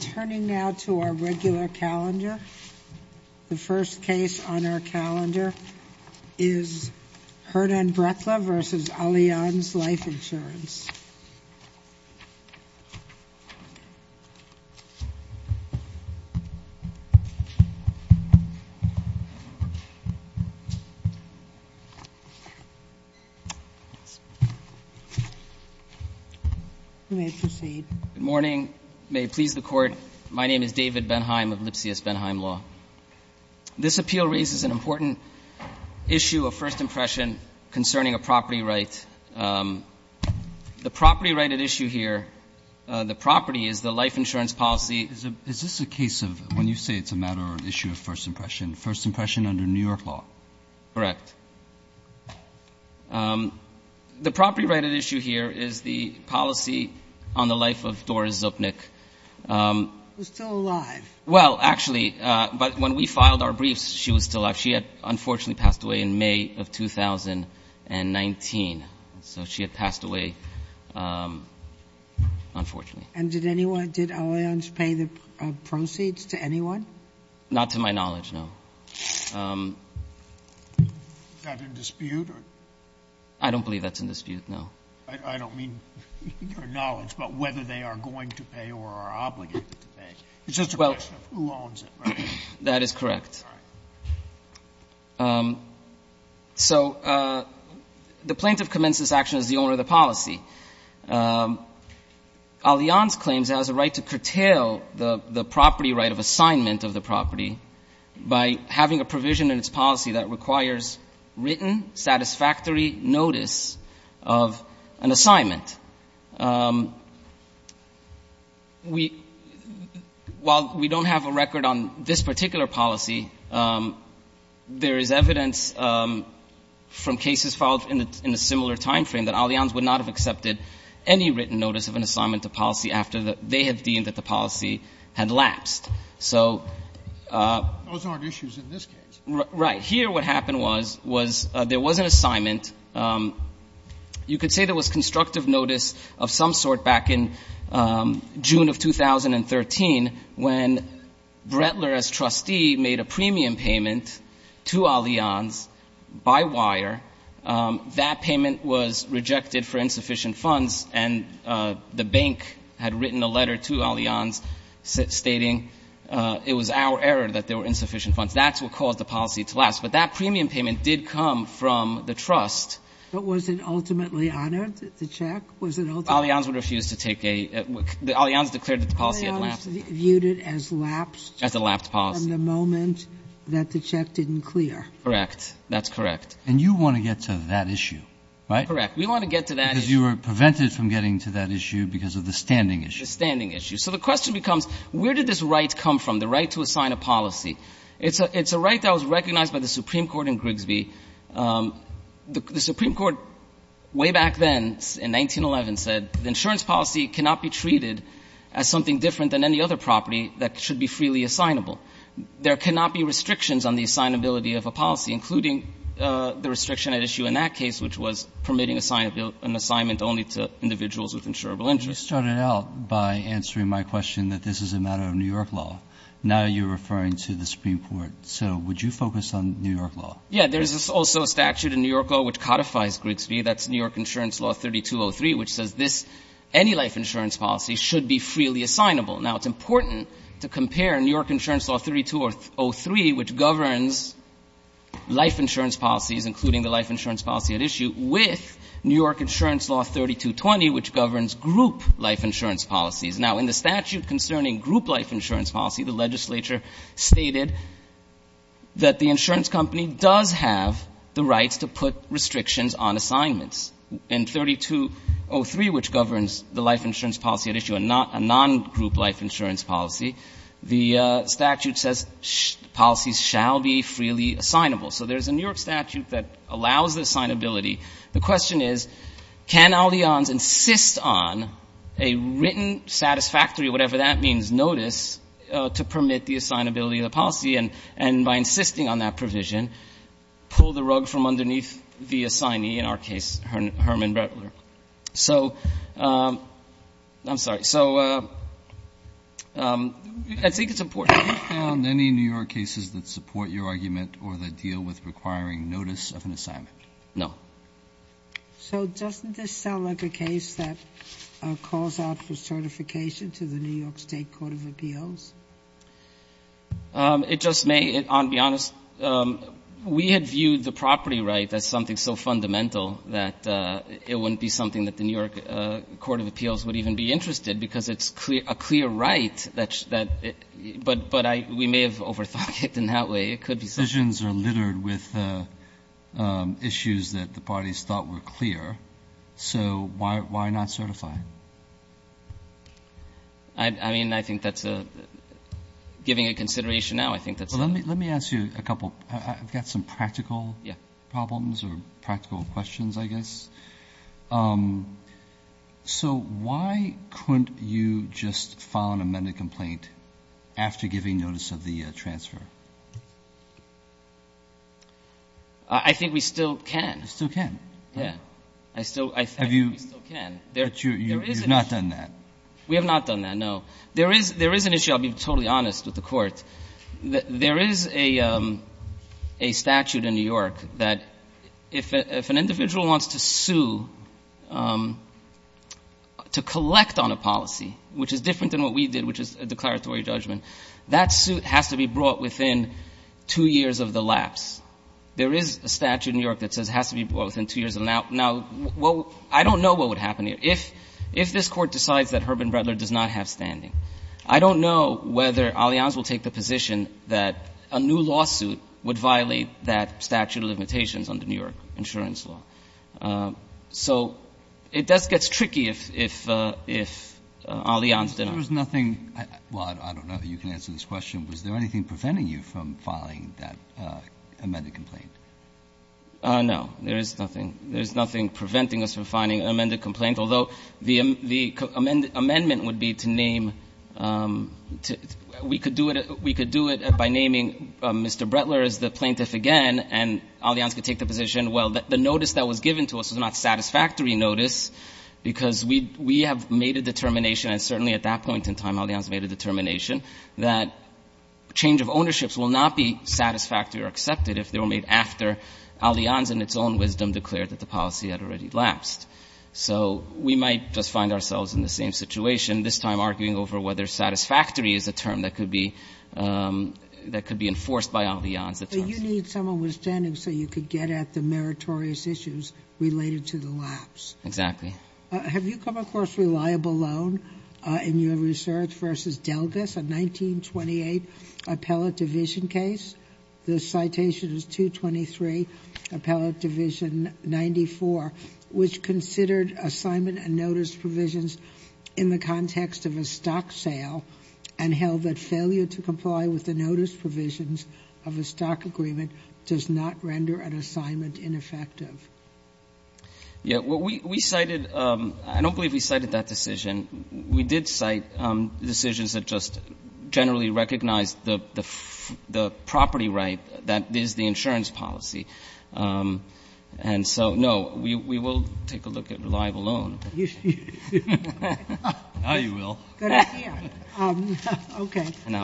Turning now to our regular calendar, the first case on our calendar is Hernan Breckler v. Allianz Life Insurance Good morning. May it please the Court, my name is David Benheim of Lipsius Benheim Law. This appeal raises an important issue of first impression concerning a property right. The property right at issue here, the property is the life insurance policy. Is this a case of, when you say it's a matter of issue of first impression, first impression under New York law? Correct. The property right at issue here is the policy on the life of Doris Zupnik. Who's still alive. Well, actually, but when we filed our briefs, she was still alive. She had unfortunately passed away in 2019. So she had passed away, unfortunately. And did anyone, did Allianz pay the proceeds to anyone? Not to my knowledge, no. Is that in dispute? I don't believe that's in dispute, no. I don't mean your knowledge, but whether they are going to pay or are obligated to pay. It's just a question of who owns it, right? That is correct. All right. So the plaintiff commences action as the owner of the policy. Allianz claims it has a right to curtail the property right of assignment of the property by having a provision in its policy that requires written, satisfactory notice of an assignment. We — while we don't have a record on this particular policy, there is evidence from cases filed in a similar time frame that Allianz would not have accepted any written notice of an assignment to policy after they had deemed that the policy had lapsed. So — Those aren't issues in this case. Right. Here what happened was, was there was an assignment. You could say there was constructive notice of some sort back in June of 2013 when Brettler as trustee made a premium payment to Allianz by wire. That payment was rejected for insufficient funds, and the bank had written a letter to Allianz stating, it was our error that there were insufficient funds. That's what caused the policy to lapse. But that premium payment did come from the trust. But was it ultimately honored, the check? Was it ultimately — Allianz would refuse to take a — Allianz declared that the policy had lapsed. Allianz viewed it as lapsed — As a lapsed policy. — from the moment that the check didn't clear. Correct. That's correct. And you want to get to that issue, right? Correct. We want to get to that issue. Because you were prevented from getting to that issue because of the standing issue. The standing issue. So the question becomes, where did this right come from, the right to assign a policy? It's a right that was recognized by the Supreme Court in Grigsby. The Supreme Court, way back then, in 1911, said the insurance policy cannot be treated as something different than any other property that should be freely assignable. There cannot be restrictions on the assignability of a policy, including the restriction at issue in that case, which was permitting an assignment only to individuals with insurable interest. You started out by answering my question that this is a matter of New York law. Now you're referring to the Supreme Court. So would you focus on New York law? Yeah. There's also a statute in New York law which codifies Grigsby. That's New York Insurance Law 3203, which says this — any life insurance policy should be freely assignable. Now, it's important to compare New York Insurance Law 3203, which governs life insurance policies, including the life insurance policy at issue, with New York Insurance Law 3220, which governs group life insurance policies. Now, in the statute concerning group life insurance policy, the legislature stated that the insurance company does have the rights to put restrictions on assignments. In 3203, which governs the life insurance policy at issue, a non-group life insurance policy, the statute says policies shall be freely assignable. So there's a New York statute that allows the assignability. The question is, can Allianz insist on a written satisfactory, whatever that means, notice to permit the assignability of the policy, and by insisting on that provision, pull the rug from underneath the assignee, in our case, Herman Brettler? So — I'm sorry. So I think it's important. Roberts. Have you found any New York cases that support your argument or that deal with requiring notice of an assignment? No. So doesn't this sound like a case that calls out for certification to the New York State Court of Appeals? It just may. I'll be honest. We had viewed the property right as something so fundamental that it wouldn't be something that the New York Court of Appeals would even be interested because it's a clear right that — but we may have overthought it in that way. It could be something — Decisions are littered with issues that the parties thought were clear. So why not certify? I mean, I think that's a — giving it consideration now, I think that's — Well, let me ask you a couple — I've got some practical problems or practical questions, I guess. So why couldn't you just file an amended complaint after giving notice of the transfer? I think we still can. You still can? Yeah. I still — I think we still can. But you've not done that. We have not done that, no. There is an issue — I'll be totally honest with the Court — there is a statute in New York that if an individual wants to sue — to collect on a policy, which is different than what we did, which is a declaratory judgment, that suit has to be brought within two years of the lapse. There is a statute in New York that says it has to be brought within two years. Now, I don't know what would happen if — if this Court decides that Herb and Brettler does not have standing. I don't know whether Allianz will take the position that a new lawsuit would violate that statute of limitations under New York insurance law. So it does — gets tricky if — if Allianz did not. There is nothing — well, I don't know that you can answer this question. Was there anything preventing you from filing that amended complaint? No. There is nothing. There is nothing preventing us from filing an amended complaint, although the amendment would be to name — we could do it — we could do it by naming Mr. Brettler as the plaintiff again, and Allianz could take the position, well, the notice that was given to us was not a satisfactory notice, because we — we have made a determination, and certainly at that point in time Allianz made a determination, that change of ownerships will not be satisfactory or accepted if they were made after Allianz in its own wisdom declared that the policy had already lapsed. So we might just find ourselves in the same situation, this time arguing over whether satisfactory is a term that could be — that could be enforced by Allianz. But you need some understanding so you could get at the meritorious issues related to the lapse. Exactly. Have you come across a reliable loan in your research versus Delgas, a 1928 appellate division case? The citation is 223, appellate division 94, which considered assignment and notice provisions in the context of a stock sale and held that failure to comply with the stock agreement does not render an assignment ineffective. Yeah, well, we cited — I don't believe we cited that decision. We did cite decisions that just generally recognized the property right that is the insurance policy. And so, no, we will take a look at reliable loan. Now you will. Good idea. Okay. Good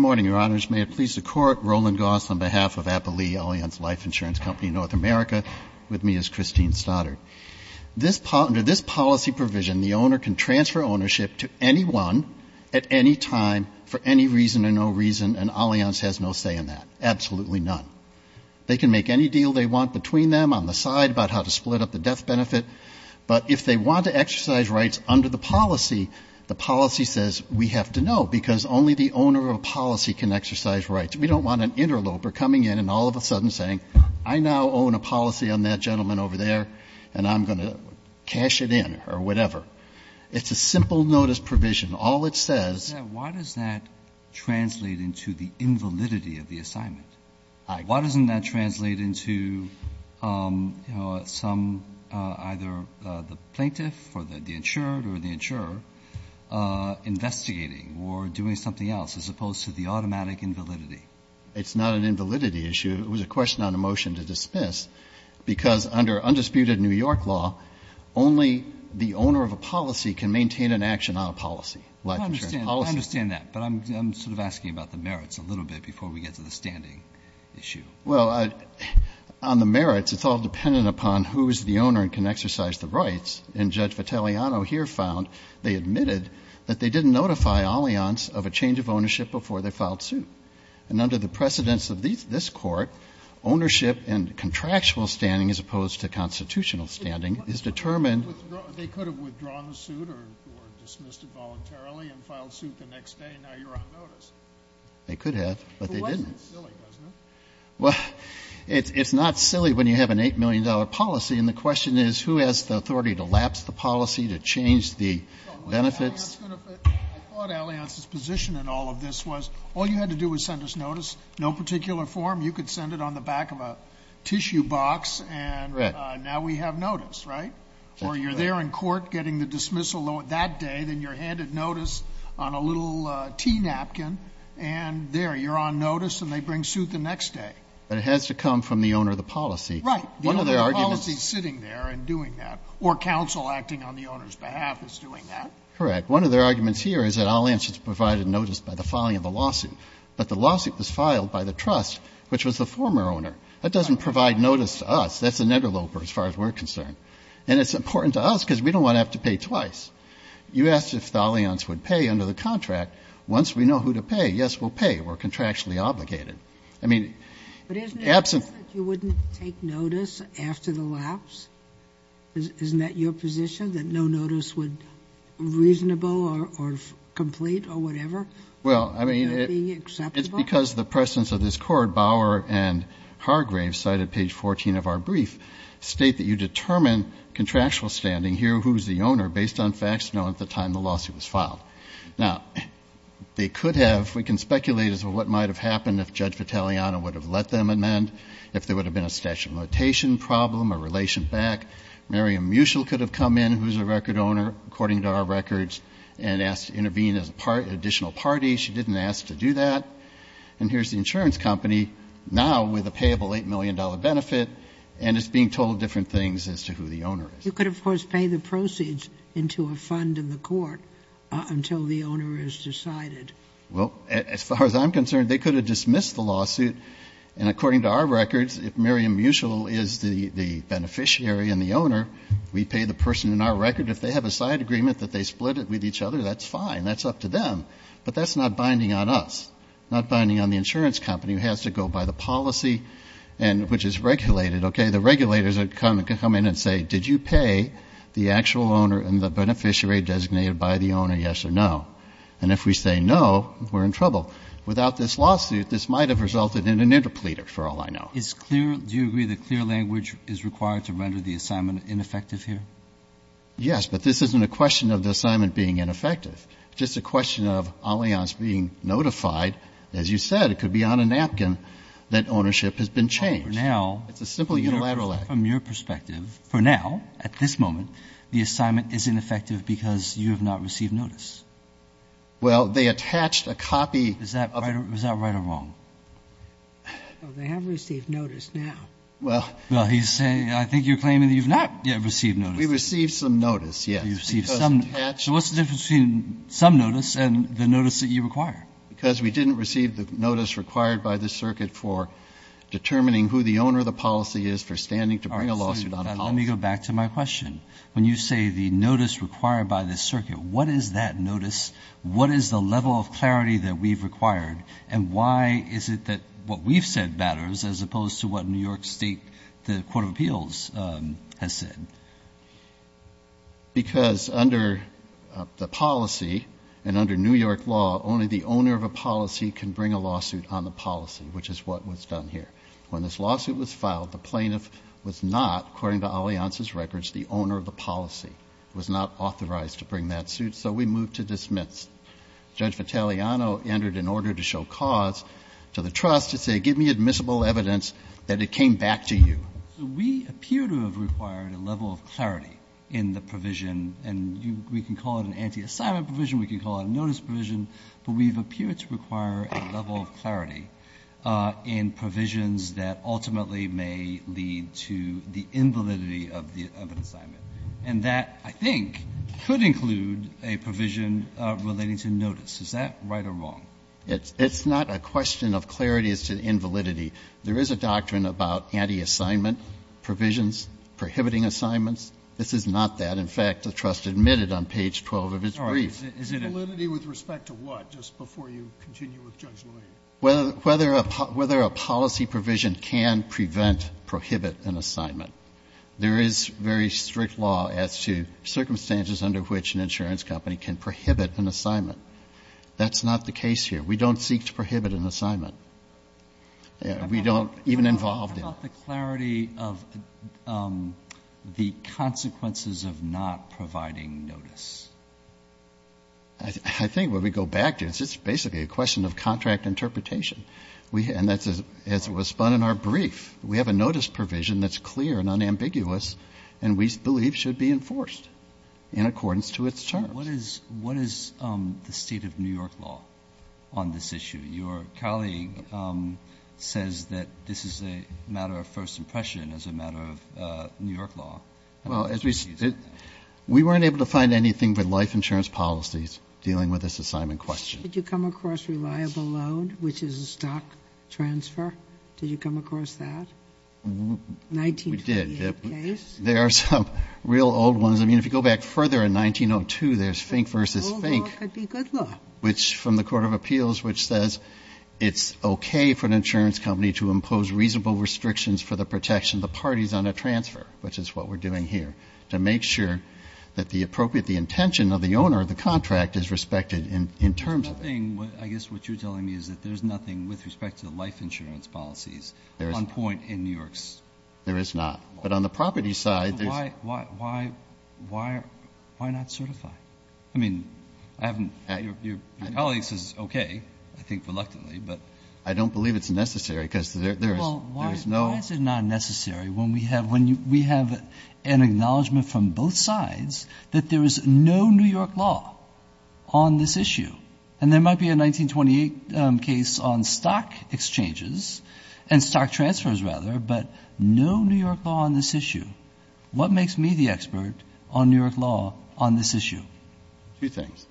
morning, Your Honors. May it please the Court, Roland Goss on behalf of Appellee Allianz Life Insurance Company, North America, with me is Christine Stoddard. This — under this policy provision, the owner can transfer ownership to anyone at any time for any reason or no reason, and Allianz has no say in that. Absolutely none. They can make any deal they want between them, on the side, about how to split up the death benefit. But if they want to exercise rights under the policy, the policy says, we have to know, because only the owner of a policy can exercise rights. We don't want an interloper coming in and all of a sudden saying, I now own a policy on that gentleman over there, and I'm going to cash it in, or whatever. It's a simple notice provision. All it says — Now, why does that translate into the invalidity of the assignment? Why doesn't that translate into some — either the plaintiff or the insured or the insurer investigating or doing something else, as opposed to the automatic invalidity? It's not an invalidity issue. It was a question on a motion to dismiss, because under undisputed New York law, only the owner of a policy can maintain an action on a policy. Well, I understand that, but I'm sort of asking about the merits a little bit before we get to the standing issue. Well, on the merits, it's all dependent upon who is the owner and can exercise the rights. And Judge Vitelliano here found they admitted that they didn't notify Allianz of a change of ownership before they filed suit. And under the precedence of this Court, ownership and contractual standing, as opposed to constitutional standing, is determined — They could have withdrawn the suit or dismissed it voluntarily and filed suit the next day, and now you're on notice. They could have, but they didn't. Well, it's not silly when you have an $8 million policy. And the question is, who has the authority to lapse the policy, to change the benefits? I thought Allianz's position in all of this was, all you had to do was send us notice. No particular form. You could send it on the back of a tissue box and — Correct. Now we have notice, right? Or you're there in court getting the dismissal that day, then you're handed notice on a little tea napkin, and there, you're on notice and they bring suit the next day. But it has to come from the owner of the policy. Right. The owner of the policy is sitting there and doing that. Or counsel acting on the owner's behalf is doing that. Correct. One of their arguments here is that Allianz provided notice by the filing of the lawsuit. But the lawsuit was filed by the trust, which was the former owner. That doesn't provide notice to us. That's an interloper, as far as we're concerned. And it's important to us because we don't want to have to pay twice. You asked if Allianz would pay under the contract. Once we know who to pay, yes, we'll pay. We're contractually obligated. I mean, absent — But isn't it that you wouldn't take notice after the lapse? Isn't that your position, that no notice would be reasonable or complete or whatever? Well, I mean, it's because the presence of this Court, Bauer and Hargrave, cited at page 14 of our brief, state that you determine contractual standing here, who's the owner, based on facts known at the time the lawsuit was filed. Now, they could have — we can speculate as to what might have happened if Judge Vitelliano would have let them amend, if there would have been a statute of limitation problem, a relation back. Mariam Mutchell could have come in, who's a record owner, according to our records, and asked to intervene as an additional party. She didn't ask to do that. And here's the insurance company now with a payable $8 million benefit, and it's being told different things as to who the owner is. You could, of course, pay the proceeds into a fund in the court until the owner is decided. Well, as far as I'm concerned, they could have dismissed the lawsuit. And according to our records, if Mariam Mutchell is the beneficiary and the owner, we pay the person in our record. If they have a side agreement that they split it with each other, that's fine. That's up to them. But that's not binding on us. Not binding on the insurance company, who has to go by the policy, and which is regulated. Okay? The regulators come in and say, did you pay the actual owner and the beneficiary designated by the owner, yes or no? And if we say no, we're in trouble. Without this lawsuit, this might have resulted in an interpleader, for all I know. Is clear – do you agree that clear language is required to render the assignment ineffective here? Yes, but this isn't a question of the assignment being ineffective. It's just a question of Allianz being notified, as you said, it could be on a napkin, that ownership has been changed. It's a simple unilateral act. Well, for now, from your perspective, for now, at this moment, the assignment is ineffective because you have not received notice. Well, they attached a copy of it. Is that right or wrong? No, they have received notice now. Well, he's saying, I think you're claiming that you've not yet received notice. We received some notice, yes. So what's the difference between some notice and the notice that you require? Because we didn't receive the notice required by the circuit for determining who the owner of the policy is for standing to bring a lawsuit on the policy. All right, so let me go back to my question. When you say the notice required by the circuit, what is that notice? What is the level of clarity that we've required? And why is it that what we've said matters as opposed to what New York State, the Court of Appeals, has said? Because under the policy and under New York law, only the owner of a policy can bring a lawsuit on the policy, which is what was done here. When this lawsuit was filed, the plaintiff was not, according to Alianz's records, the owner of the policy, was not authorized to bring that suit, so we moved to dismiss. Judge Vitaliano entered an order to show cause to the trust to say, give me admissible evidence that it came back to you. So we appear to have required a level of clarity in the provision, and we can call it an anti-assignment provision, we can call it a notice provision, but we've appeared to require a level of clarity in provisions that ultimately may lead to the invalidity of an assignment. And that, I think, could include a provision relating to notice. Is that right or wrong? It's not a question of clarity as to invalidity. There is a doctrine about anti-assignment provisions prohibiting assignments. This is not that. In fact, the trust admitted on page 12 of its brief. Is it a validity with respect to what, just before you continue with Judge Levine? Whether a policy provision can prevent, prohibit an assignment. There is very strict law as to circumstances under which an insurance company can prohibit an assignment. That's not the case here. We don't seek to prohibit an assignment. We don't even involve them. How about the clarity of the consequences of not providing notice? I think when we go back to it, it's basically a question of contract interpretation. And that's what was spun in our brief. We have a notice provision that's clear and unambiguous, and we believe should be enforced in accordance to its terms. What is the state of New York law on this issue? Your colleague says that this is a matter of first impression as a matter of New York law. Well, as we said, we weren't able to find anything but life insurance policies dealing with this assignment question. Did you come across reliable loan, which is a stock transfer? Did you come across that? We did. 1958 case. There are some real old ones. I mean, if you go back further in 1902, there's Fink versus Fink. Old law could be good law. Which from the Court of Appeals, which says it's okay for an insurance company to impose reasonable restrictions for the protection of the parties on a transfer. Which is what we're doing here. To make sure that the appropriate, the intention of the owner of the contract is respected in terms of it. I guess what you're telling me is that there's nothing with respect to the life insurance policies on point in New York's. There is not. But on the property side, there's- Why not certify? I mean, I haven't, your colleagues is okay, I think reluctantly, but I don't believe it's necessary because there is no- Well, why is it not necessary when we have an acknowledgment from both sides that there is no New York law on this issue? And there might be a 1928 case on stock exchanges, and stock transfers rather, but no New York law on this issue. What makes me the expert on New York law on this issue? Two things.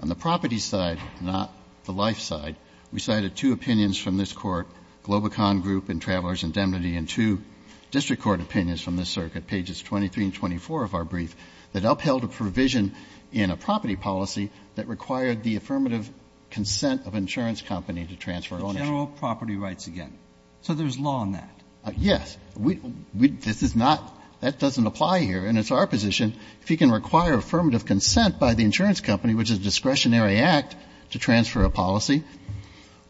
On the property side, not the life side. We cited two opinions from this court, Globacon Group and Travelers' Indemnity, and two district court opinions from this circuit, pages 23 and 24 of our brief, that upheld a provision in a property policy that required the affirmative consent of an insurance company to transfer ownership. General property rights again. So there's law on that? Yes. We, this is not, that doesn't apply here, and it's our position, if you can require affirmative consent by the insurance company, which is a discretionary act to transfer a policy,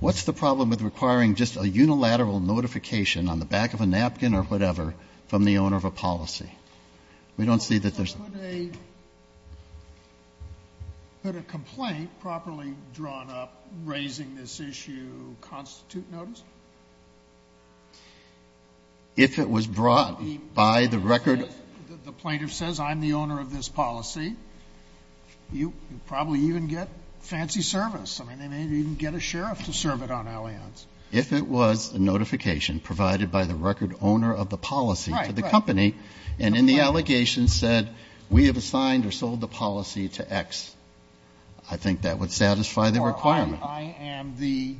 what's the problem with requiring just a unilateral notification on the back of a napkin or whatever from the owner of a policy? We don't see that there's- So could a complaint properly drawn up raising this issue constitute notice? If it was brought by the record- If the plaintiff says, I'm the owner of this policy, you probably even get fancy service. I mean, they may even get a sheriff to serve it on alliance. If it was a notification provided by the record owner of the policy to the company and in the allegation said, we have assigned or sold the policy to X, I think that would satisfy the requirement. I am the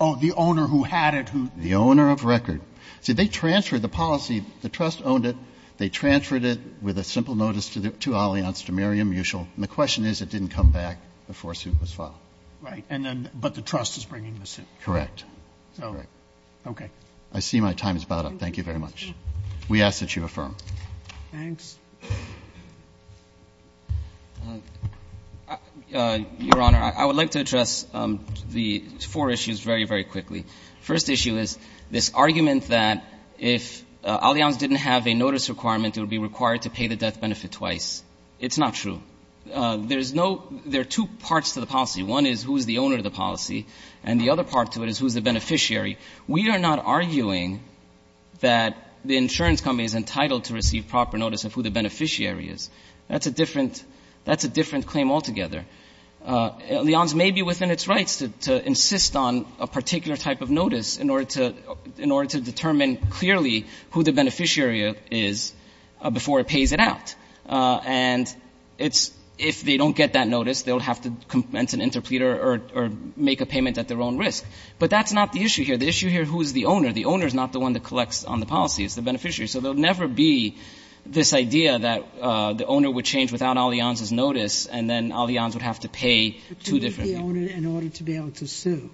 owner who had it, who- The owner of record. So they transferred the policy, the trust owned it, they transferred it with a simple notice to alliance to Miriam Mutual. And the question is, it didn't come back before suit was filed. Right. And then, but the trust is bringing the suit. Correct. So, okay. I see my time is about up. Thank you very much. We ask that you affirm. Thanks. Your Honor, I would like to address the four issues very, very quickly. First issue is this argument that if alliance didn't have a notice requirement, it would be required to pay the death benefit twice. It's not true. There's no- There are two parts to the policy. One is who is the owner of the policy, and the other part to it is who is the beneficiary. We are not arguing that the insurance company is entitled to receive proper notice of who the beneficiary is. That's a different claim altogether. Alliance may be within its rights to insist on a particular type of notice in order to determine clearly who the beneficiary is before it pays it out. And if they don't get that notice, they'll have to commence an interpleader or make a payment at their own risk. But that's not the issue here. The issue here, who is the owner? The owner is not the one that collects on the policy. It's the beneficiary. So there will never be this idea that the owner would change without alliance's notice, and then alliance would have to pay two different- But you need the owner in order to be able to sue.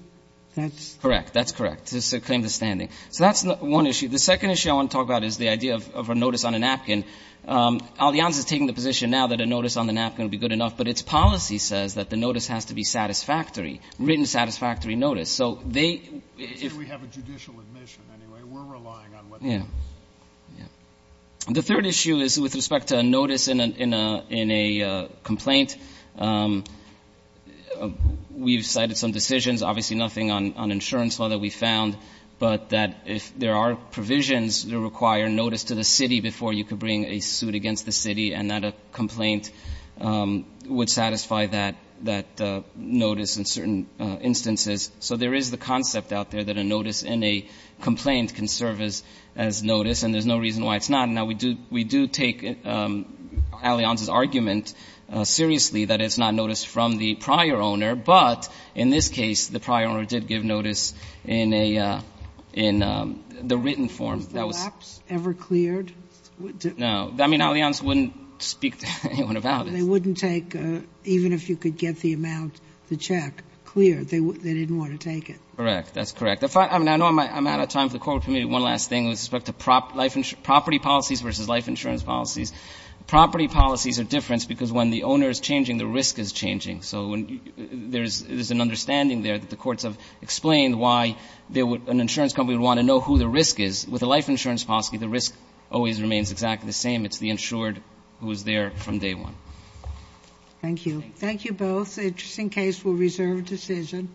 That's- Correct. That's correct. It's a claim to standing. So that's one issue. The second issue I want to talk about is the idea of a notice on a napkin. Alliance is taking the position now that a notice on the napkin would be good enough, but its policy says that the notice has to be satisfactory, written satisfactory notice. So they- We have a judicial admission, anyway. We're relying on what happens. Yeah, yeah. The third issue is with respect to a notice in a complaint. We've cited some decisions, obviously nothing on insurance law that we found, but that if there are provisions that require notice to the city before you could bring a suit against the city, and that a complaint would satisfy that notice in certain instances. So there is the concept out there that a notice in a complaint can serve as notice, and there's no reason why it's not. Now, we do take alliance's argument seriously, that it's not notice from the prior owner, but in this case, the prior owner did give notice in a, in the written form. Was the lapse ever cleared? No. I mean, alliance wouldn't speak to anyone about it. So they wouldn't take, even if you could get the amount, the check, cleared, they didn't want to take it. Correct, that's correct. I mean, I know I'm out of time for the court, but maybe one last thing with respect to property policies versus life insurance policies. Property policies are different because when the owner is changing, the risk is changing. So there's an understanding there that the courts have explained why an insurance company would want to know who the risk is. With a life insurance policy, the risk always remains exactly the same. It's the insured who is there from day one. Thank you. Thank you both. Just in case, we'll reserve a decision.